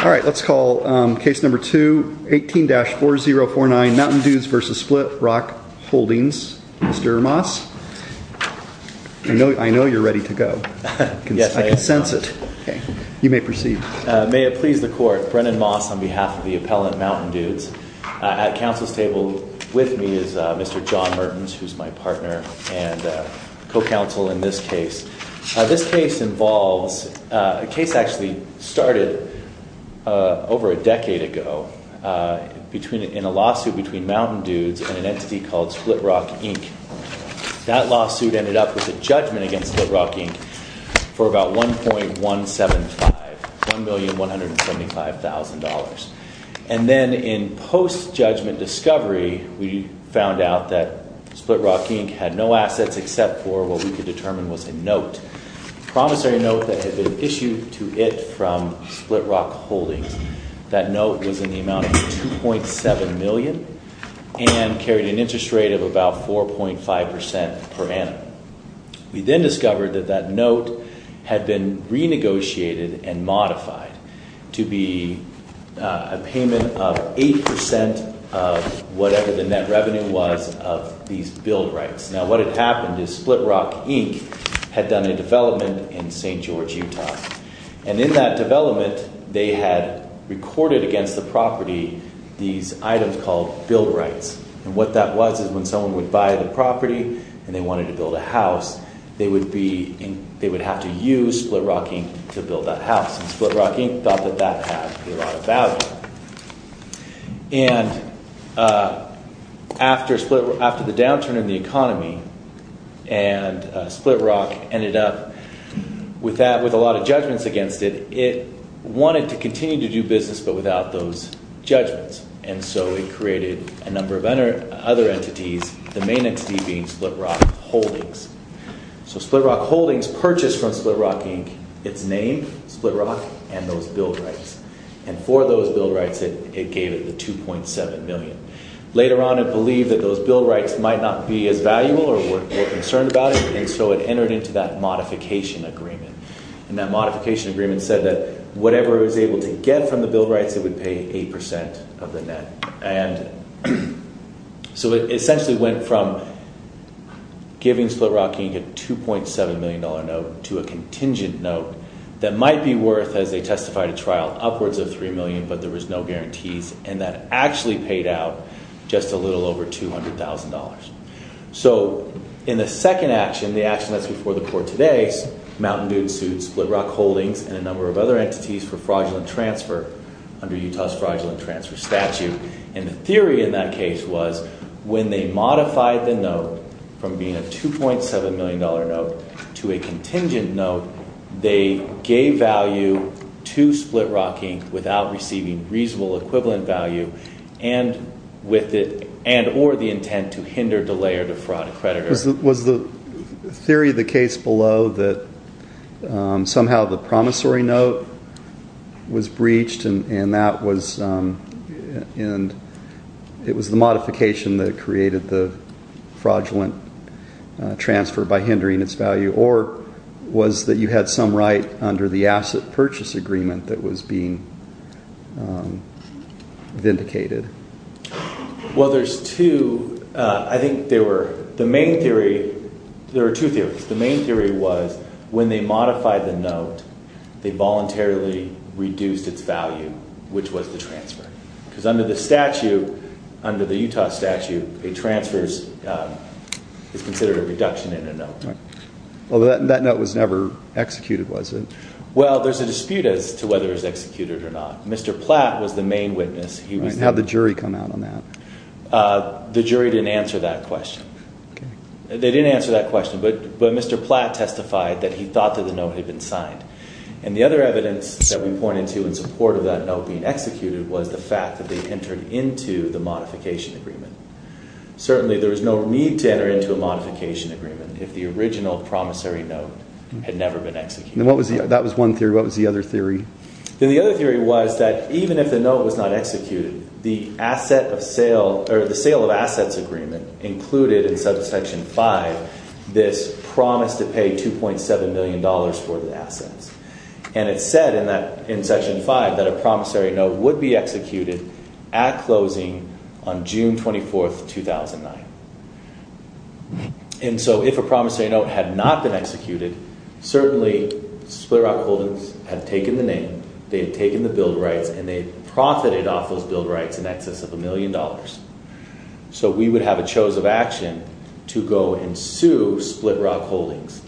All right, let's call case number 2, 18-4049 Mountain Dudes v. Split Rock Holdings. Mr. Moss, I know you're ready to go. Yes, I am. I can sense it. You may proceed. May it please the court, Brennan Moss on behalf of the appellant Mountain Dudes. At counsel's table with me is Mr. John Mertens, who's my partner and co-counsel in this case. This case actually started over a decade ago in a lawsuit between Mountain Dudes and an entity called Split Rock, Inc. That lawsuit ended up with a judgment against Split Rock, Inc. for about $1,175,000. And then in post-judgment discovery, we found out that Split Rock, Inc. had no assets except for what we could determine was a note, a promissory note that had been issued to it from Split Rock Holdings. That note was in the amount of $2.7 million and carried an interest rate of about 4.5% per annum. We then discovered that that note had been renegotiated and modified to be a payment of 8% of whatever the net revenue was of these build rights. Now, what had happened is Split Rock, Inc. had done a development in St. George, Utah. And in that development, they had recorded against the property these items called build rights. And what that was is when someone would buy the property and they wanted to build a house, they would have to use Split Rock, Inc. to build that house. And Split Rock, Inc. thought that that had a lot of value. And after the downturn in the economy and Split Rock ended up with a lot of judgments against it, it wanted to continue to do business but without those judgments. And so it created a number of other entities, the main entity being Split Rock Holdings. So Split Rock Holdings purchased from Split Rock, Inc. its name, Split Rock, and those build rights. And for those build rights, it gave it the $2.7 million. Later on, it believed that those build rights might not be as valuable or were concerned about it. And so it entered into that modification agreement. And that modification agreement said that whatever it was able to get from the build rights, it would pay 8% of the net. And so it essentially went from giving Split Rock, Inc. a $2.7 million note to a contingent note that might be worth, as they testified at trial, upwards of $3 million, but there was no guarantees. And that actually paid out just a little over $200,000. So in the second action, the action that's before the court today, Mountain Dude sued Split Rock Holdings and a number of other entities for fraudulent transfer under Utah's fraudulent transfer statute. And the theory in that case was when they modified the note from being a $2.7 million note to a contingent note, they gave value to Split Rock, Inc. without receiving reasonable equivalent value and or the intent to hinder, delay, or defraud a creditor. Was the theory of the case below that somehow the promissory note was breached and it was the modification that created the fraudulent transfer by hindering its value? Or was that you had some right under the asset purchase agreement that was being vindicated? There were two theories. The main theory was when they modified the note, they voluntarily reduced its value, which was the transfer. Because under the Utah statute, a transfer is considered a reduction in a note. That note was never executed, was it? Well, there's a dispute as to whether it was executed or not. Mr. Platt was the main witness. How did the jury come out on that? The jury didn't answer that question. They didn't answer that question, but Mr. Platt testified that he thought that the note had been signed. And the other evidence that we pointed to in support of that note being executed was the fact that they entered into the modification agreement. Certainly, there was no need to enter into a modification agreement if the original promissory note had never been executed. That was one theory. What was the other theory? The other theory was that even if the note was not executed, the sale of assets agreement included in Section 5 this promise to pay $2.7 million for the assets. And it said in Section 5 that a promissory note would be executed at closing on June 24, 2009. And so if a promissory note had not been executed, certainly Split Rock Holdings had taken the name, they had taken the build rights, and they profited off those build rights in excess of a million dollars. So we would have a chose of action to go and sue Split Rock Holdings.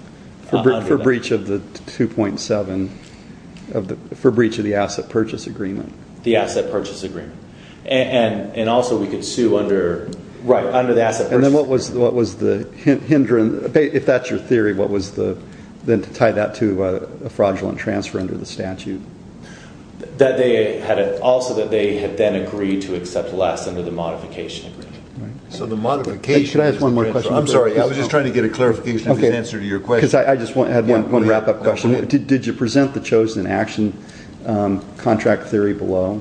For breach of the asset purchase agreement? The asset purchase agreement. And also we could sue under the asset purchase agreement. And then what was the hindrance? If that's your theory, then to tie that to a fraudulent transfer under the statute? Also that they had then agreed to accept less under the modification agreement. Could I ask one more question? I'm sorry, I was just trying to get a clarification of his answer to your question. Because I just had one wrap-up question. Did you present the chose of action contract theory below?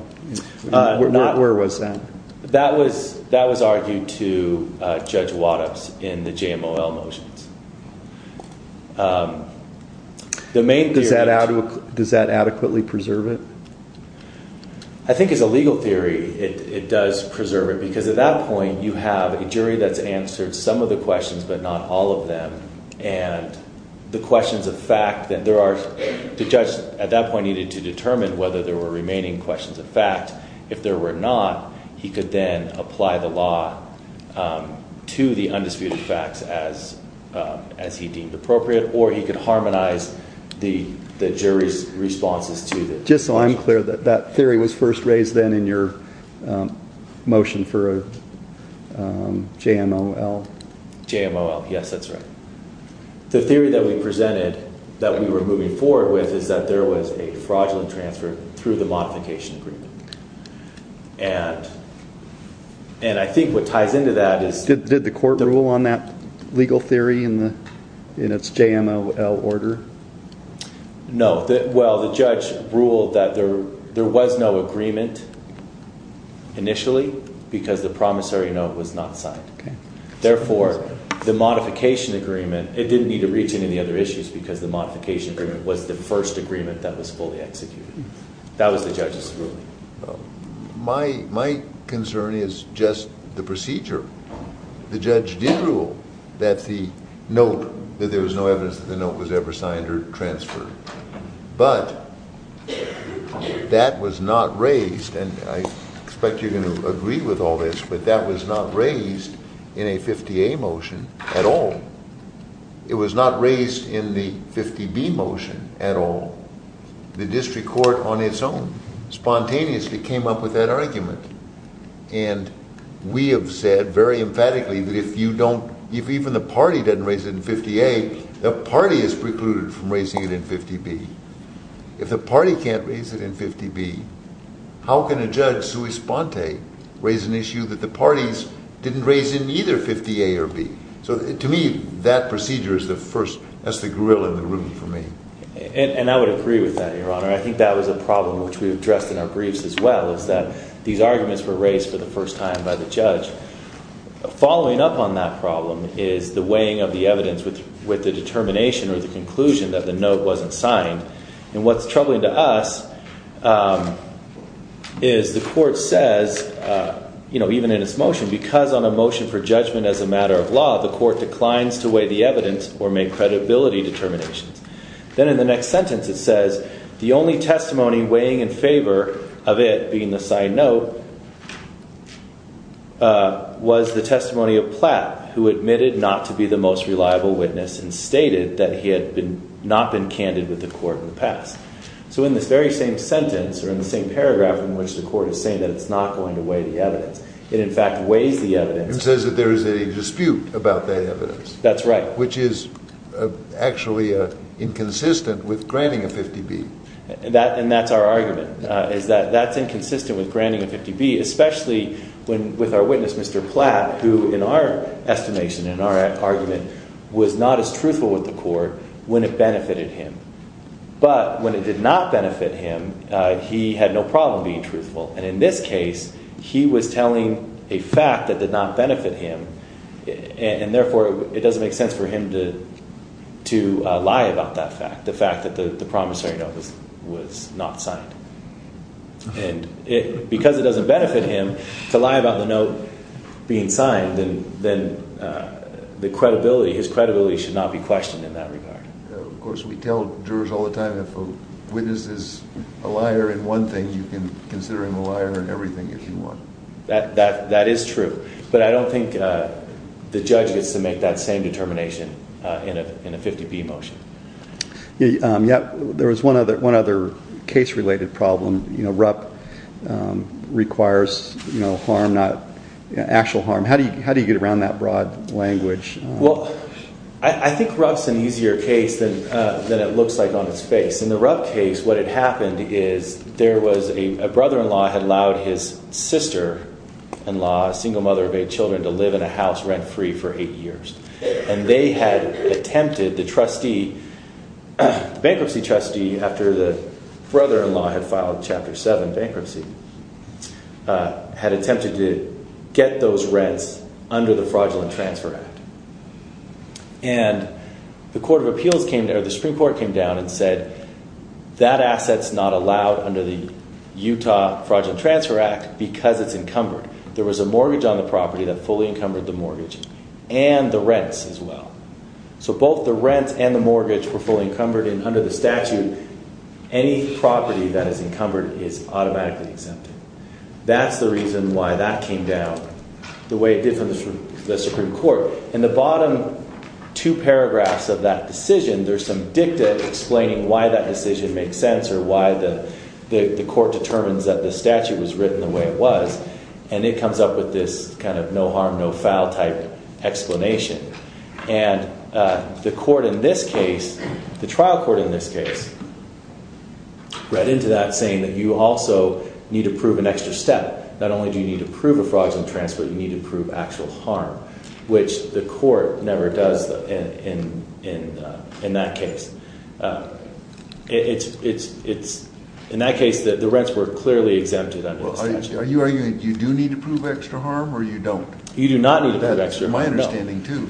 Where was that? That was argued to Judge Wattups in the JMOL motions. Does that adequately preserve it? I think as a legal theory, it does preserve it. Because at that point, you have a jury that's answered some of the questions, but not all of them. And the questions of fact, the judge at that point needed to determine whether there were remaining questions of fact. If there were not, he could then apply the law to the undisputed facts as he deemed appropriate. Or he could harmonize the jury's responses to that. Just so I'm clear, that theory was first raised then in your motion for a JMOL? JMOL, yes, that's right. The theory that we presented, that we were moving forward with, is that there was a fraudulent transfer through the modification agreement. And I think what ties into that is... Did the court rule on that legal theory in its JMOL order? No. Well, the judge ruled that there was no agreement initially because the promissory note was not signed. Therefore, the modification agreement, it didn't need to reach any other issues because the modification agreement was the first agreement that was fully executed. That was the judge's ruling. My concern is just the procedure. The judge did rule that the note, that there was no evidence that the note was ever signed or transferred. But that was not raised, and I expect you're going to agree with all this, but that was not raised in a 50A motion at all. It was not raised in the 50B motion at all. The district court on its own spontaneously came up with that argument. And we have said very emphatically that if even the party doesn't raise it in 50A, the party is precluded from raising it in 50B. If the party can't raise it in 50B, how can a judge, sui sponte, raise an issue that the parties didn't raise in either 50A or 50B? So to me, that procedure is the first. That's the grill in the room for me. And I would agree with that, Your Honor. I think that was a problem which we addressed in our briefs as well, is that these arguments were raised for the first time by the judge. Following up on that problem is the weighing of the evidence with the determination or the conclusion that the note wasn't signed. And what's troubling to us is the court says, even in its motion, because on a motion for judgment as a matter of law, the court declines to weigh the evidence or make credibility determinations. Then in the next sentence, it says the only testimony weighing in favor of it being the side note was the testimony of Platt, who admitted not to be the most reliable witness and stated that he had not been candid with the court in the past. So in this very same sentence or in the same paragraph in which the court is saying that it's not going to weigh the evidence, it in fact weighs the evidence. It says that there is a dispute about that evidence. That's right. Which is actually inconsistent with granting a 50B. And that's our argument, is that that's inconsistent with granting a 50B, especially with our witness, Mr. Platt, who in our estimation, in our argument, was not as truthful with the court when it benefited him. But when it did not benefit him, he had no problem being truthful. And in this case, he was telling a fact that did not benefit him. And therefore, it doesn't make sense for him to lie about that fact, the fact that the promissory note was not signed. And because it doesn't benefit him to lie about the note being signed, then the credibility, his credibility should not be questioned in that regard. Of course, we tell jurors all the time if a witness is a liar in one thing, you can consider him a liar in everything if you want. That is true. But I don't think the judge gets to make that same determination in a 50B motion. Yeah. There was one other case-related problem. RUP requires harm, not actual harm. How do you get around that broad language? Well, I think RUP's an easier case than it looks like on its face. In the RUP case, what had happened is there was a brother-in-law had allowed his sister-in-law, a single mother of eight children, to live in a house rent-free for eight years. And they had attempted, the bankruptcy trustee, after the brother-in-law had filed Chapter 7 bankruptcy, had attempted to get those rents under the Fraudulent Transfer Act. And the Supreme Court came down and said, that asset's not allowed under the Utah Fraudulent Transfer Act because it's encumbered. There was a mortgage on the property that fully encumbered the mortgage and the rents as well. So both the rents and the mortgage were fully encumbered and under the statute, any property that is encumbered is automatically exempted. That's the reason why that came down the way it did for the Supreme Court. In the bottom two paragraphs of that decision, there's some dicta explaining why that decision makes sense or why the court determines that the statute was written the way it was. And it comes up with this kind of no harm, no foul type explanation. And the court in this case, the trial court in this case, read into that saying that you also need to prove an extra step. Not only do you need to prove a fraudulent transfer, you need to prove actual harm, which the court never does in that case. In that case, the rents were clearly exempted under the statute. Are you arguing you do need to prove extra harm or you don't? You do not need to prove extra harm. That's my understanding, too.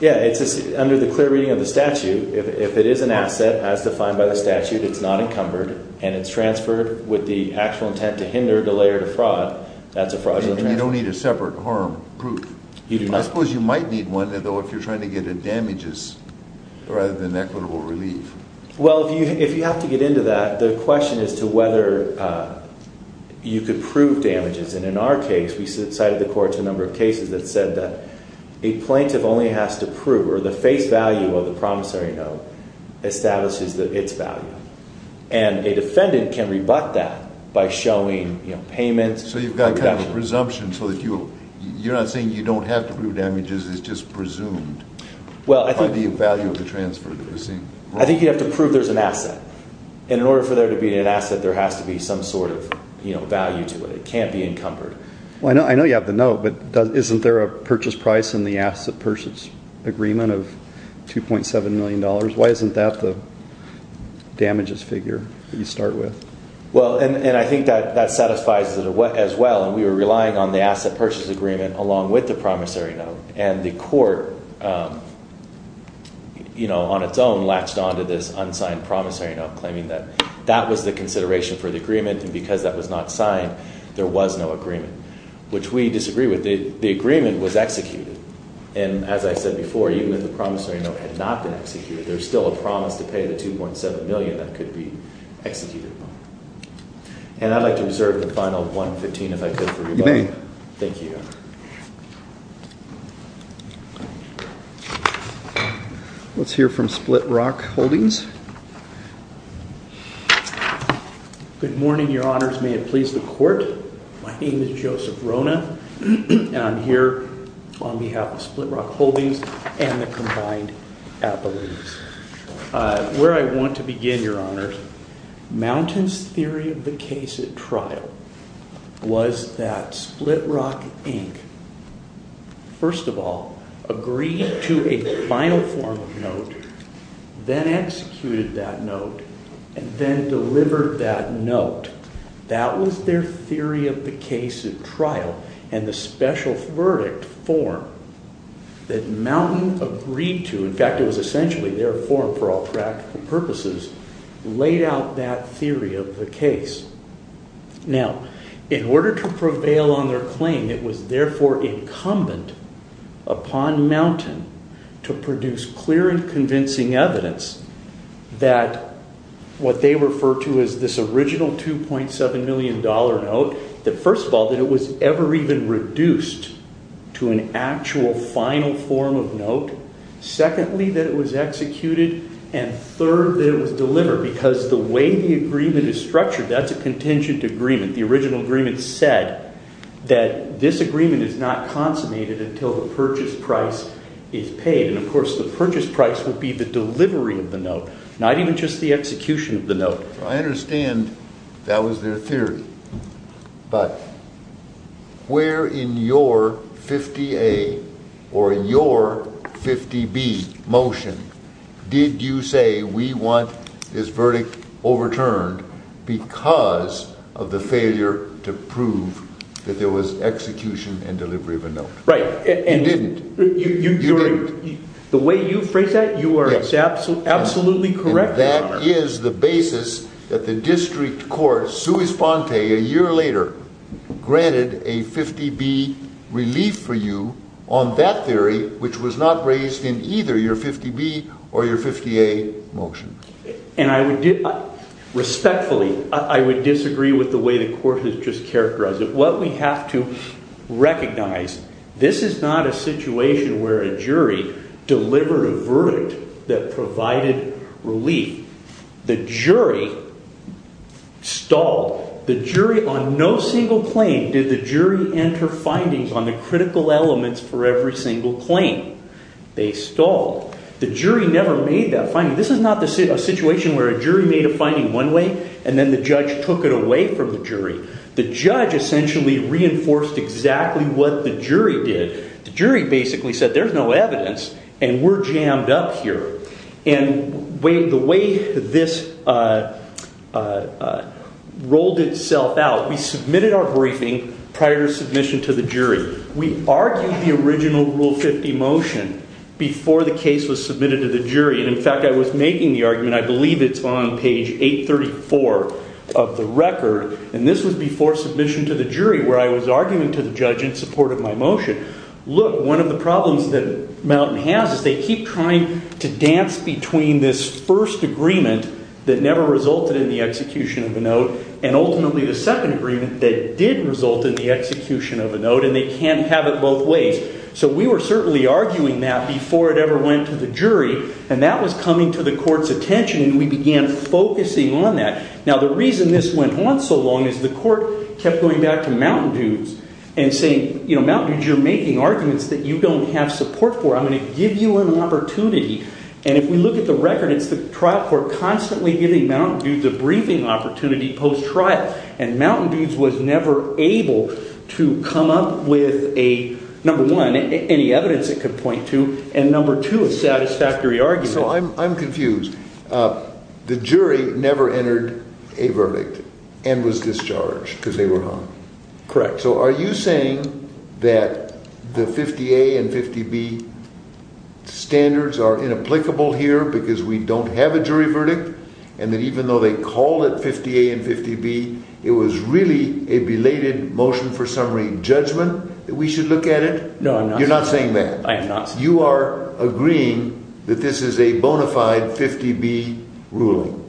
Yeah, it's under the clear reading of the statute. If it is an asset as defined by the statute, it's not encumbered, and it's transferred with the actual intent to hinder, delay, or defraud, that's a fraudulent transfer. You don't need a separate harm proof. I suppose you might need one, though, if you're trying to get damages rather than equitable relief. Well, if you have to get into that, the question is to whether you could prove damages. And in our case, we cited the court to a number of cases that said that a plaintiff only has to prove or the face value of the promissory note establishes its value. And a defendant can rebut that by showing payments. So you've got kind of a presumption so that you're not saying you don't have to prove damages. It's just presumed by the value of the transfer. I think you have to prove there's an asset. And in order for there to be an asset, there has to be some sort of value to it. It can't be encumbered. I know you have the note, but isn't there a purchase price in the asset purchase agreement of $2.7 million? Why isn't that the damages figure that you start with? Well, and I think that satisfies it as well. And we were relying on the asset purchase agreement along with the promissory note. And the court, you know, on its own, latched on to this unsigned promissory note claiming that that was the consideration for the agreement. And because that was not signed, there was no agreement, which we disagree with. The agreement was executed. And as I said before, even if the promissory note had not been executed, there's still a promise to pay the $2.7 million that could be executed. And I'd like to reserve the final $1.15 if I could for you both. You may. Thank you, Your Honor. Let's hear from Split Rock Holdings. Good morning, Your Honors. May it please the court. My name is Joseph Rona, and I'm here on behalf of Split Rock Holdings and the Combined Appellate. Where I want to begin, Your Honors, Mountain's theory of the case at trial was that Split Rock Inc., first of all, agreed to a final form of note, then executed that note, and then delivered that note. That was their theory of the case at trial, and the special verdict form that Mountain agreed to—in fact, it was essentially their form for all practical purposes—laid out that theory of the case. Now, in order to prevail on their claim, it was therefore incumbent upon Mountain to produce clear and convincing evidence that what they refer to as this original $2.7 million note, that first of all, that it was ever even reduced to an actual final form of note, secondly, that it was executed, and third, that it was delivered, because the way the agreement is structured, that's a contingent agreement. The original agreement said that this agreement is not consummated until the purchase price is paid. And, of course, the purchase price would be the delivery of the note, not even just the execution of the note. I understand that was their theory, but where in your 50A or in your 50B motion did you say, we want this verdict overturned because of the failure to prove that there was execution and delivery of a note? Right. You didn't. The way you phrase that, you are absolutely correct, Your Honor. That is the basis that the district court, sui sponte, a year later, granted a 50B relief for you on that theory, which was not raised in either your 50B or your 50A motion. And respectfully, I would disagree with the way the court has just characterized it. What we have to recognize, this is not a situation where a jury delivered a verdict that provided relief. The jury stalled. The jury on no single claim did the jury enter findings on the critical elements for every single claim. They stalled. The jury never made that finding. This is not a situation where a jury made a finding one way, and then the judge took it away from the jury. The judge essentially reinforced exactly what the jury did. The jury basically said, there's no evidence, and we're jammed up here. And the way this rolled itself out, we submitted our briefing prior to submission to the jury. We argued the original Rule 50 motion before the case was submitted to the jury. In fact, I was making the argument, I believe it's on page 834 of the record. And this was before submission to the jury, where I was arguing to the judge in support of my motion. Look, one of the problems that Mountain has is they keep trying to dance between this first agreement that never resulted in the execution of a note, and ultimately the second agreement that did result in the execution of a note, and they can't have it both ways. So we were certainly arguing that before it ever went to the jury. And that was coming to the court's attention, and we began focusing on that. Now, the reason this went on so long is the court kept going back to Mountain Dudes and saying, you know, Mountain Dudes, you're making arguments that you don't have support for. I'm going to give you an opportunity. And if we look at the record, it's the trial court constantly giving Mountain Dudes a briefing opportunity post-trial. And Mountain Dudes was never able to come up with a, number one, any evidence it could point to, and number two, a satisfactory argument. So I'm confused. The jury never entered a verdict and was discharged because they were wrong. Correct. So are you saying that the 50A and 50B standards are inapplicable here because we don't have a jury verdict, and that even though they called it 50A and 50B, it was really a belated motion for summary judgment that we should look at it? No, I'm not saying that. You're not saying that? I am not saying that. You are agreeing that this is a bona fide 50B ruling?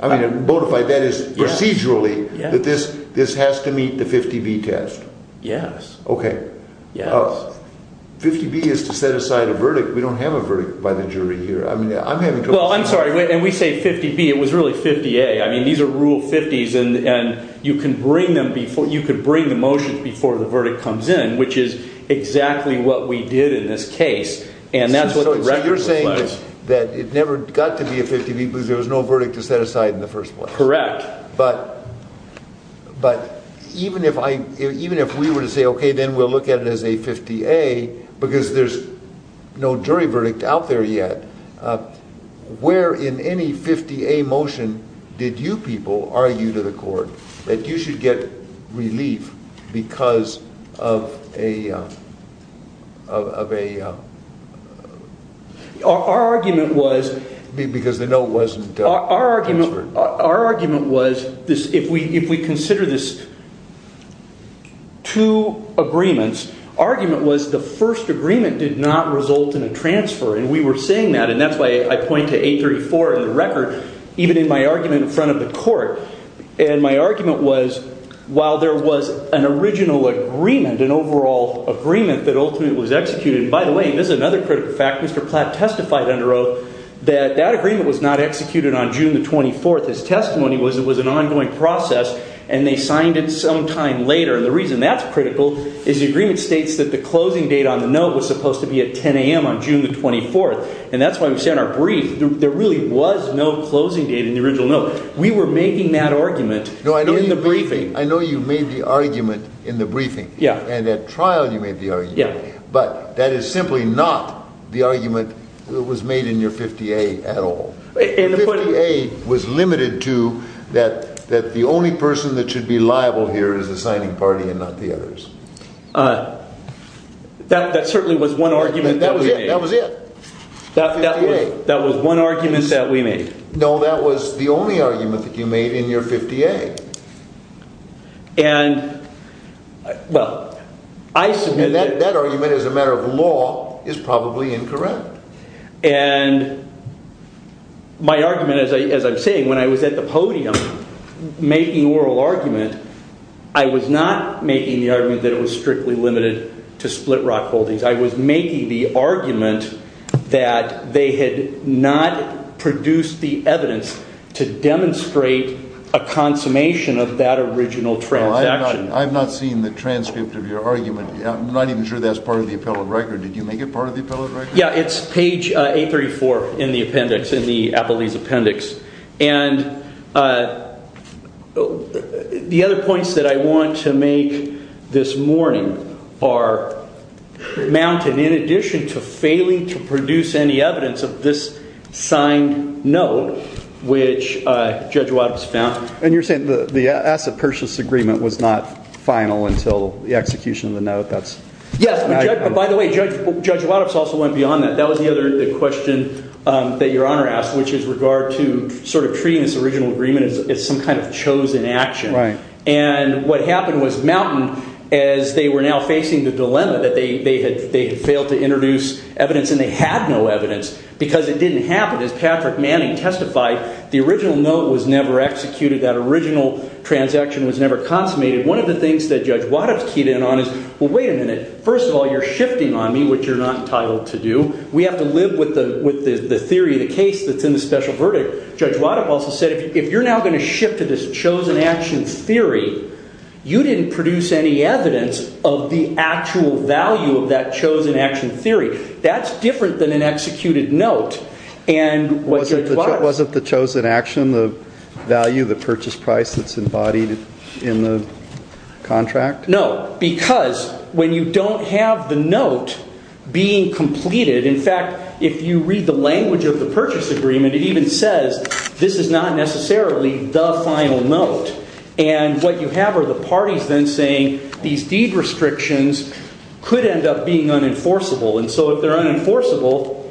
I mean, bona fide, that is procedurally that this has to meet the 50B test? Yes. Okay. Yes. 50B is to set aside a verdict. We don't have a verdict by the jury here. Well, I'm sorry, and we say 50B. It was really 50A. I mean, these are Rule 50s, and you can bring the motions before the verdict comes in, which is exactly what we did in this case. So you're saying that it never got to be a 50B because there was no verdict to set aside in the first place? Correct. But even if we were to say, okay, then we'll look at it as a 50A because there's no jury verdict out there yet, where in any 50A motion did you people argue to the court that you should get relief because of a – Our argument was – Because the note wasn't transferred. Our argument was if we consider this two agreements, argument was the first agreement did not result in a transfer, and we were saying that, and that's why I point to 834 in the record, even in my argument in front of the court. And my argument was while there was an original agreement, an overall agreement that ultimately was executed – And by the way, and this is another critical fact, Mr. Platt testified under oath that that agreement was not executed on June the 24th. His testimony was it was an ongoing process, and they signed it sometime later. And the reason that's critical is the agreement states that the closing date on the note was supposed to be at 10 a.m. on June the 24th. And that's why we said in our brief there really was no closing date in the original note. We were making that argument in the briefing. I know you made the argument in the briefing. And at trial you made the argument. But that is simply not the argument that was made in your 50A at all. Your 50A was limited to that the only person that should be liable here is the signing party and not the others. That certainly was one argument that was made. That was it. That was one argument that we made. No, that was the only argument that you made in your 50A. And, well, I submit that... And that argument as a matter of law is probably incorrect. And my argument, as I'm saying, when I was at the podium making oral argument, I was not making the argument that it was strictly limited to split rock holdings. I was making the argument that they had not produced the evidence to demonstrate a consummation of that original transaction. Well, I've not seen the transcript of your argument. I'm not even sure that's part of the appellate record. Did you make it part of the appellate record? Yeah, it's page 834 in the appendix, in the Applebee's appendix. And the other points that I want to make this morning are mounted in addition to failing to produce any evidence of this signed note, which Judge Waddup's found. And you're saying the asset purchase agreement was not final until the execution of the note? Yes. By the way, Judge Waddup's also went beyond that. That was the other question that Your Honor asked, which is regard to sort of treating this original agreement as some kind of chosen action. Right. And what happened was mounted as they were now facing the dilemma that they had failed to introduce evidence and they had no evidence because it didn't happen. As Patrick Manning testified, the original note was never executed. That original transaction was never consummated. One of the things that Judge Waddup's keyed in on is, well, wait a minute. First of all, you're shifting on me, which you're not entitled to do. We have to live with the theory of the case that's in the special verdict. Judge Waddup also said if you're now going to shift to this chosen action theory, you didn't produce any evidence of the actual value of that chosen action theory. That's different than an executed note. Wasn't the chosen action the value of the purchase price that's embodied in the contract? No, because when you don't have the note being completed, in fact, if you read the language of the purchase agreement, it even says this is not necessarily the final note. And what you have are the parties then saying these deed restrictions could end up being unenforceable. And so if they're unenforceable,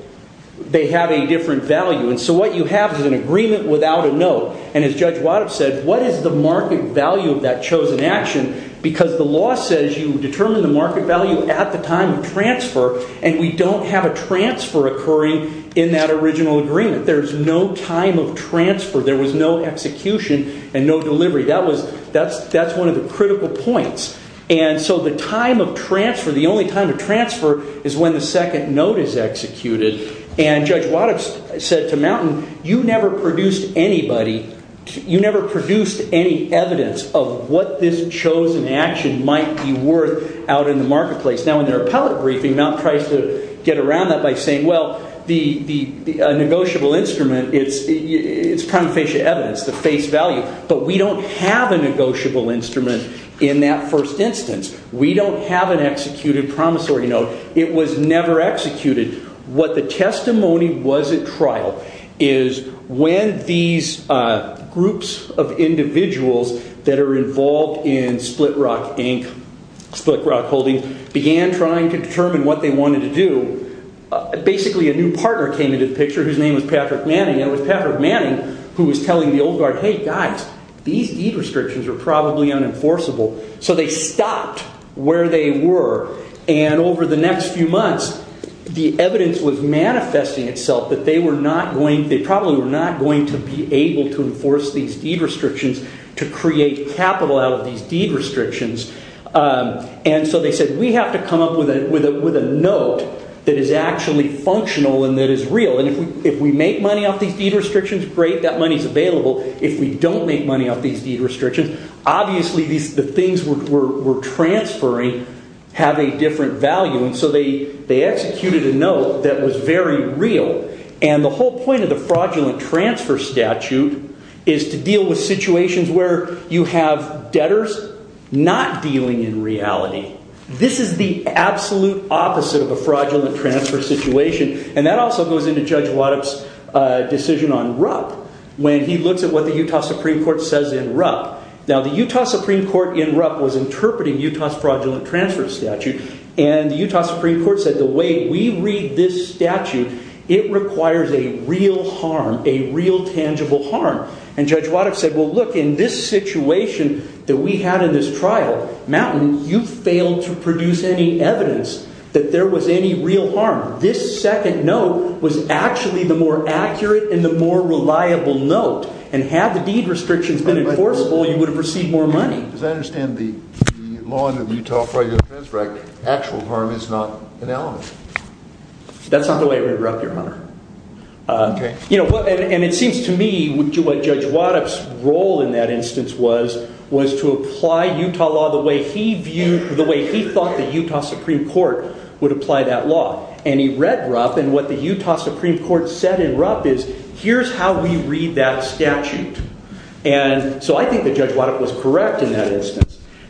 they have a different value. And so what you have is an agreement without a note. And as Judge Waddup said, what is the market value of that chosen action? Because the law says you determine the market value at the time of transfer, and we don't have a transfer occurring in that original agreement. There's no time of transfer. There was no execution and no delivery. That's one of the critical points. And so the time of transfer, the only time of transfer, is when the second note is executed. And Judge Waddup said to Mountain, you never produced anybody, you never produced any evidence of what this chosen action might be worth out in the marketplace. Now, in their appellate briefing, Mountain tries to get around that by saying, well, the negotiable instrument, it's prima facie evidence, the face value. But we don't have a negotiable instrument in that first instance. We don't have an executed promissory note. It was never executed. What the testimony was at trial is when these groups of individuals that are involved in Split Rock Inc., Split Rock Holdings, began trying to determine what they wanted to do, basically a new partner came into the picture whose name was Patrick Manning. And it was Patrick Manning who was telling the Old Guard, hey, guys, these deed restrictions are probably unenforceable. So they stopped where they were. And over the next few months, the evidence was manifesting itself that they probably were not going to be able to enforce these deed restrictions to create capital out of these deed restrictions. And so they said, we have to come up with a note that is actually functional and that is real. And if we make money off these deed restrictions, great, that money is available. If we don't make money off these deed restrictions, obviously the things we're transferring have a different value. And so they executed a note that was very real. And the whole point of the fraudulent transfer statute is to deal with situations where you have debtors not dealing in reality. This is the absolute opposite of a fraudulent transfer situation. And that also goes into Judge Waddup's decision on Rupp when he looks at what the Utah Supreme Court says in Rupp. Now, the Utah Supreme Court in Rupp was interpreting Utah's fraudulent transfer statute. And the Utah Supreme Court said the way we read this statute, it requires a real harm, a real tangible harm. And Judge Waddup said, well, look, in this situation that we had in this trial, Mountain, you failed to produce any evidence that there was any real harm. This second note was actually the more accurate and the more reliable note. And had the deed restrictions been enforceable, you would have received more money. As I understand the law in the Utah Fraudulent Transfer Act, actual harm is not an element. That's not the way it was in Rupp, Your Honor. And it seems to me what Judge Waddup's role in that instance was, was to apply Utah law the way he viewed, the way he thought the Utah Supreme Court would apply that law. And he read Rupp. And what the Utah Supreme Court said in Rupp is, here's how we read that statute. And so I think that Judge Waddup was correct in that instance.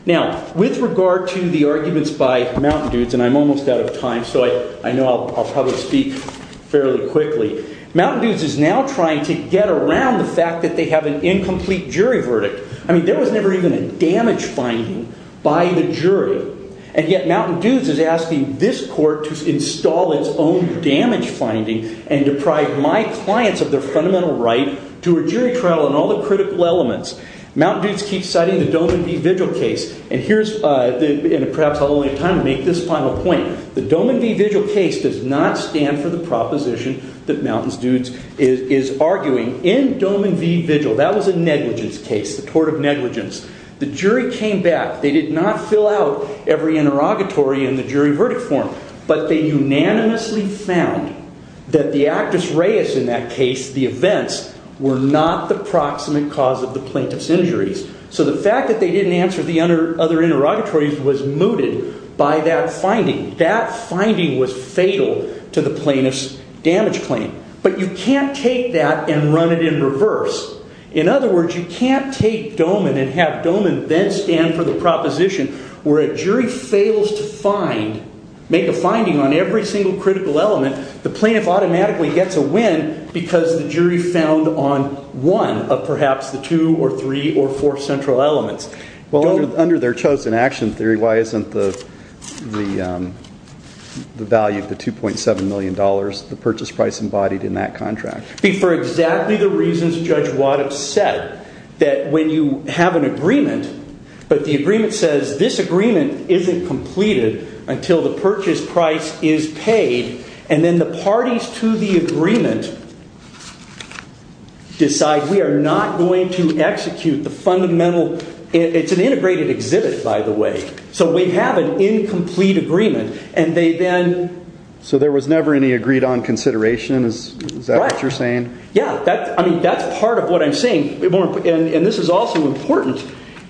Now, with regard to the arguments by Mountain Dudes, and I'm almost out of time, so I know I'll probably speak fairly quickly. Mountain Dudes is now trying to get around the fact that they have an incomplete jury verdict. I mean, there was never even a damage finding by the jury. And yet Mountain Dudes is asking this court to install its own damage finding and deprive my clients of their fundamental right to a jury trial and all the critical elements. Mountain Dudes keeps citing the Doman v. Vigil case. And here's, perhaps I'll only have time to make this final point. The Doman v. Vigil case does not stand for the proposition that Mountain Dudes is arguing. In Doman v. Vigil, that was a negligence case, the tort of negligence. The jury came back. They did not fill out every interrogatory in the jury verdict form. But they unanimously found that the actus reus in that case, the events, were not the proximate cause of the plaintiff's injuries. So the fact that they didn't answer the other interrogatories was mooted by that finding. That finding was fatal to the plaintiff's damage claim. But you can't take that and run it in reverse. In other words, you can't take Doman and have Doman then stand for the proposition where a jury fails to make a finding on every single critical element. The plaintiff automatically gets a win because the jury found on one of perhaps the two or three or four central elements. Well, under their chosen action theory, why isn't the value of the $2.7 million, the purchase price embodied in that contract? For exactly the reasons Judge Waddup said. That when you have an agreement, but the agreement says this agreement isn't completed until the purchase price is paid. And then the parties to the agreement decide we are not going to execute the fundamental. It's an integrated exhibit, by the way. So we have an incomplete agreement. So there was never any agreed on consideration? Is that what you're saying? Yeah, that's part of what I'm saying. And this is also important.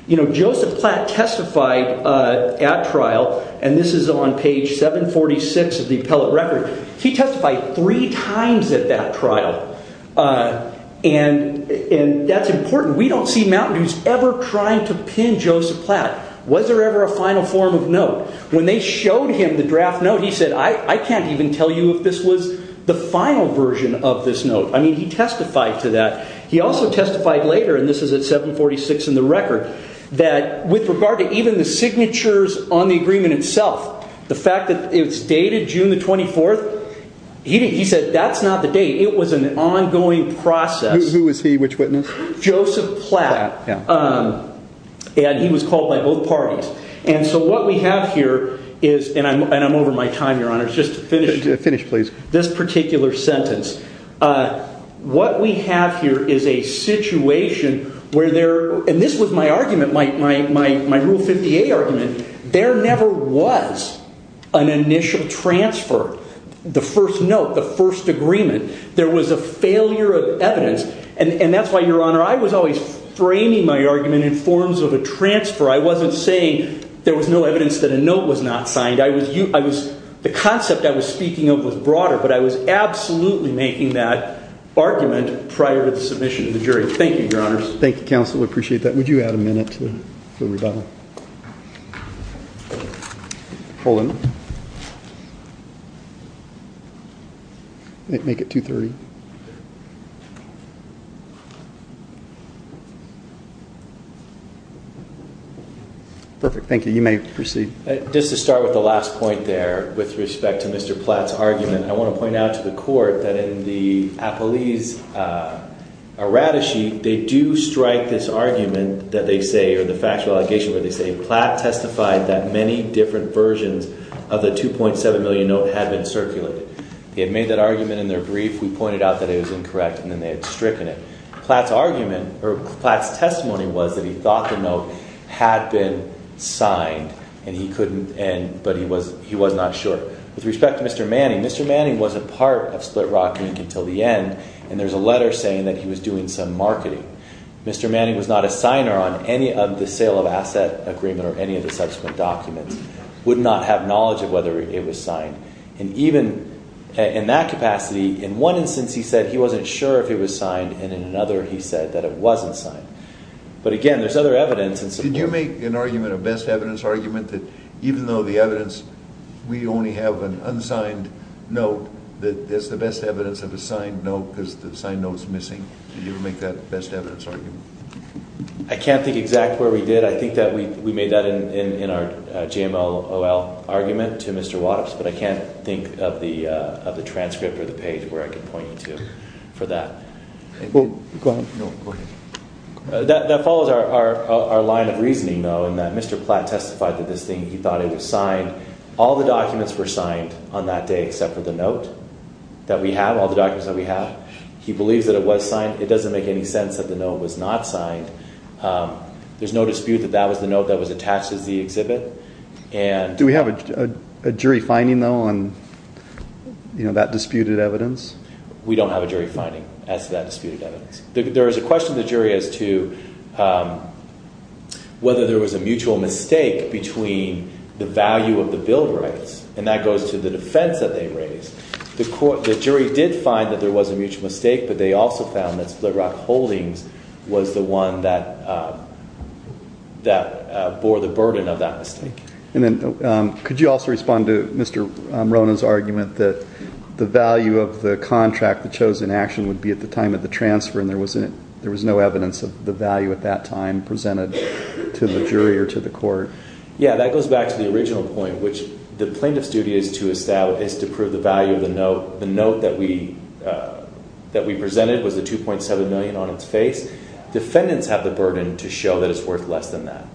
Joseph Platt testified at trial, and this is on page 746 of the appellate record. He testified three times at that trial. And that's important. We don't see Mountain Dews ever trying to pin Joseph Platt. Was there ever a final form of note? When they showed him the draft note, he said, I can't even tell you if this was the final version of this note. I mean, he testified to that. He also testified later, and this is at 746 in the record, that with regard to even the signatures on the agreement itself, the fact that it's dated June the 24th, he said that's not the date. It was an ongoing process. Who was he? Which witness? Joseph Platt. And he was called by both parties. And so what we have here is, and I'm over my time, Your Honor, just to finish this particular sentence. What we have here is a situation where there, and this was my argument, my Rule 50A argument, there never was an initial transfer, the first note, the first agreement. There was a failure of evidence. And that's why, Your Honor, I was always framing my argument in forms of a transfer. I wasn't saying there was no evidence that a note was not signed. The concept I was speaking of was broader, but I was absolutely making that argument prior to the submission of the jury. Thank you, Your Honors. Thank you, counsel. I appreciate that. Would you add a minute to the rebuttal? Hold on. Make it 2.30. Perfect. Thank you. You may proceed. Just to start with the last point there with respect to Mr. Platt's argument, I want to point out to the Court that in the Appellee's errata sheet, they do strike this argument that they say, or the factual allegation where they say, that Platt testified that many different versions of the $2.7 million note had been circulated. They had made that argument in their brief. We pointed out that it was incorrect, and then they had stricken it. Platt's argument, or Platt's testimony, was that he thought the note had been signed, but he was not sure. With respect to Mr. Manning, Mr. Manning wasn't part of Split Rock Inc. until the end, and there's a letter saying that he was doing some marketing. Mr. Manning was not a signer on any of the sale of asset agreement or any of the subsequent documents, would not have knowledge of whether it was signed. And even in that capacity, in one instance he said he wasn't sure if it was signed, and in another he said that it wasn't signed. But again, there's other evidence. Did you make an argument, a best evidence argument, that even though the evidence, we only have an unsigned note, that that's the best evidence of a signed note because the signed note's missing? Did you ever make that best evidence argument? I can't think exactly where we did. I think that we made that in our GMLOL argument to Mr. Wattops, but I can't think of the transcript or the page where I can point you to for that. Go ahead. That follows our line of reasoning, though, in that Mr. Platt testified that this thing, he thought it was signed. All the documents were signed on that day except for the note that we have, all the documents that we have. He believes that it was signed. It doesn't make any sense that the note was not signed. There's no dispute that that was the note that was attached to the exhibit. Do we have a jury finding, though, on that disputed evidence? We don't have a jury finding as to that disputed evidence. There is a question of the jury as to whether there was a mutual mistake between the value of the bill rights, and that goes to the defense that they raised. The jury did find that there was a mutual mistake, but they also found that Split Rock Holdings was the one that bore the burden of that mistake. Could you also respond to Mr. Rona's argument that the value of the contract, the chosen action, would be at the time of the transfer, and there was no evidence of the value at that time presented to the jury or to the court? Yeah, that goes back to the original point, which the plaintiff's duty is to prove the value of the note. The note that we presented was the $2.7 million on its face. Defendants have the burden to show that it's worth less than that.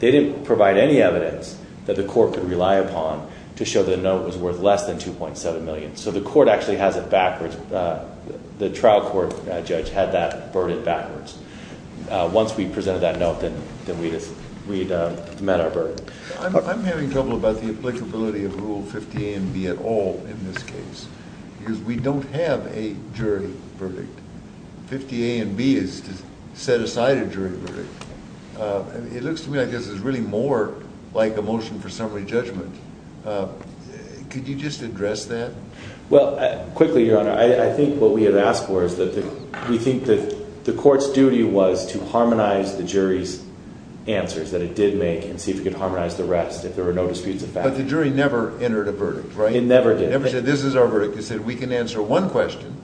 They didn't provide any evidence that the court could rely upon to show the note was worth less than $2.7 million. So the court actually has it backwards. The trial court judge had that burden backwards. Once we presented that note, then we'd met our burden. I'm having trouble about the applicability of Rule 50A and B at all in this case, because we don't have a jury verdict. 50A and B is to set aside a jury verdict. It looks to me like this is really more like a motion for summary judgment. Could you just address that? Well, quickly, Your Honor, I think what we have asked for is that we think that the court's duty was to harmonize the jury's answers, that it did make, and see if it could harmonize the rest if there were no disputes of fact. But the jury never entered a verdict, right? It never did. It never said this is our verdict. It said we can answer one question,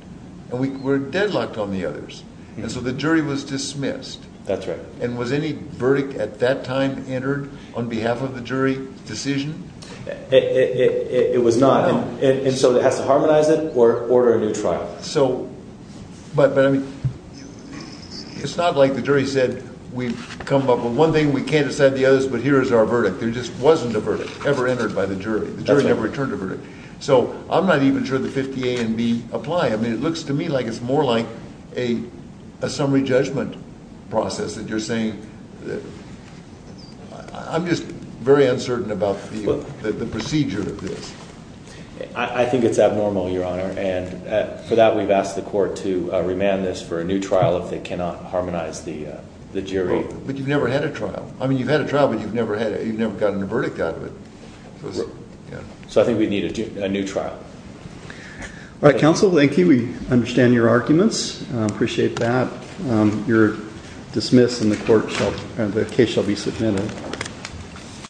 and we're deadlocked on the others. And so the jury was dismissed. That's right. And was any verdict at that time entered on behalf of the jury decision? It was not. And so it has to harmonize it or order a new trial. But, I mean, it's not like the jury said we've come up with one thing, we can't decide the others, but here is our verdict. There just wasn't a verdict ever entered by the jury. The jury never returned a verdict. So I'm not even sure that 50A and B apply. I mean, it looks to me like it's more like a summary judgment process that you're saying. I'm just very uncertain about the procedure of this. I think it's abnormal, Your Honor. And for that, we've asked the court to remand this for a new trial if they cannot harmonize the jury. But you've never had a trial. I mean, you've had a trial, but you've never gotten a verdict out of it. So I think we need a new trial. All right, counsel, thank you. We understand your arguments. I appreciate that. You're dismissed, and the case shall be submitted.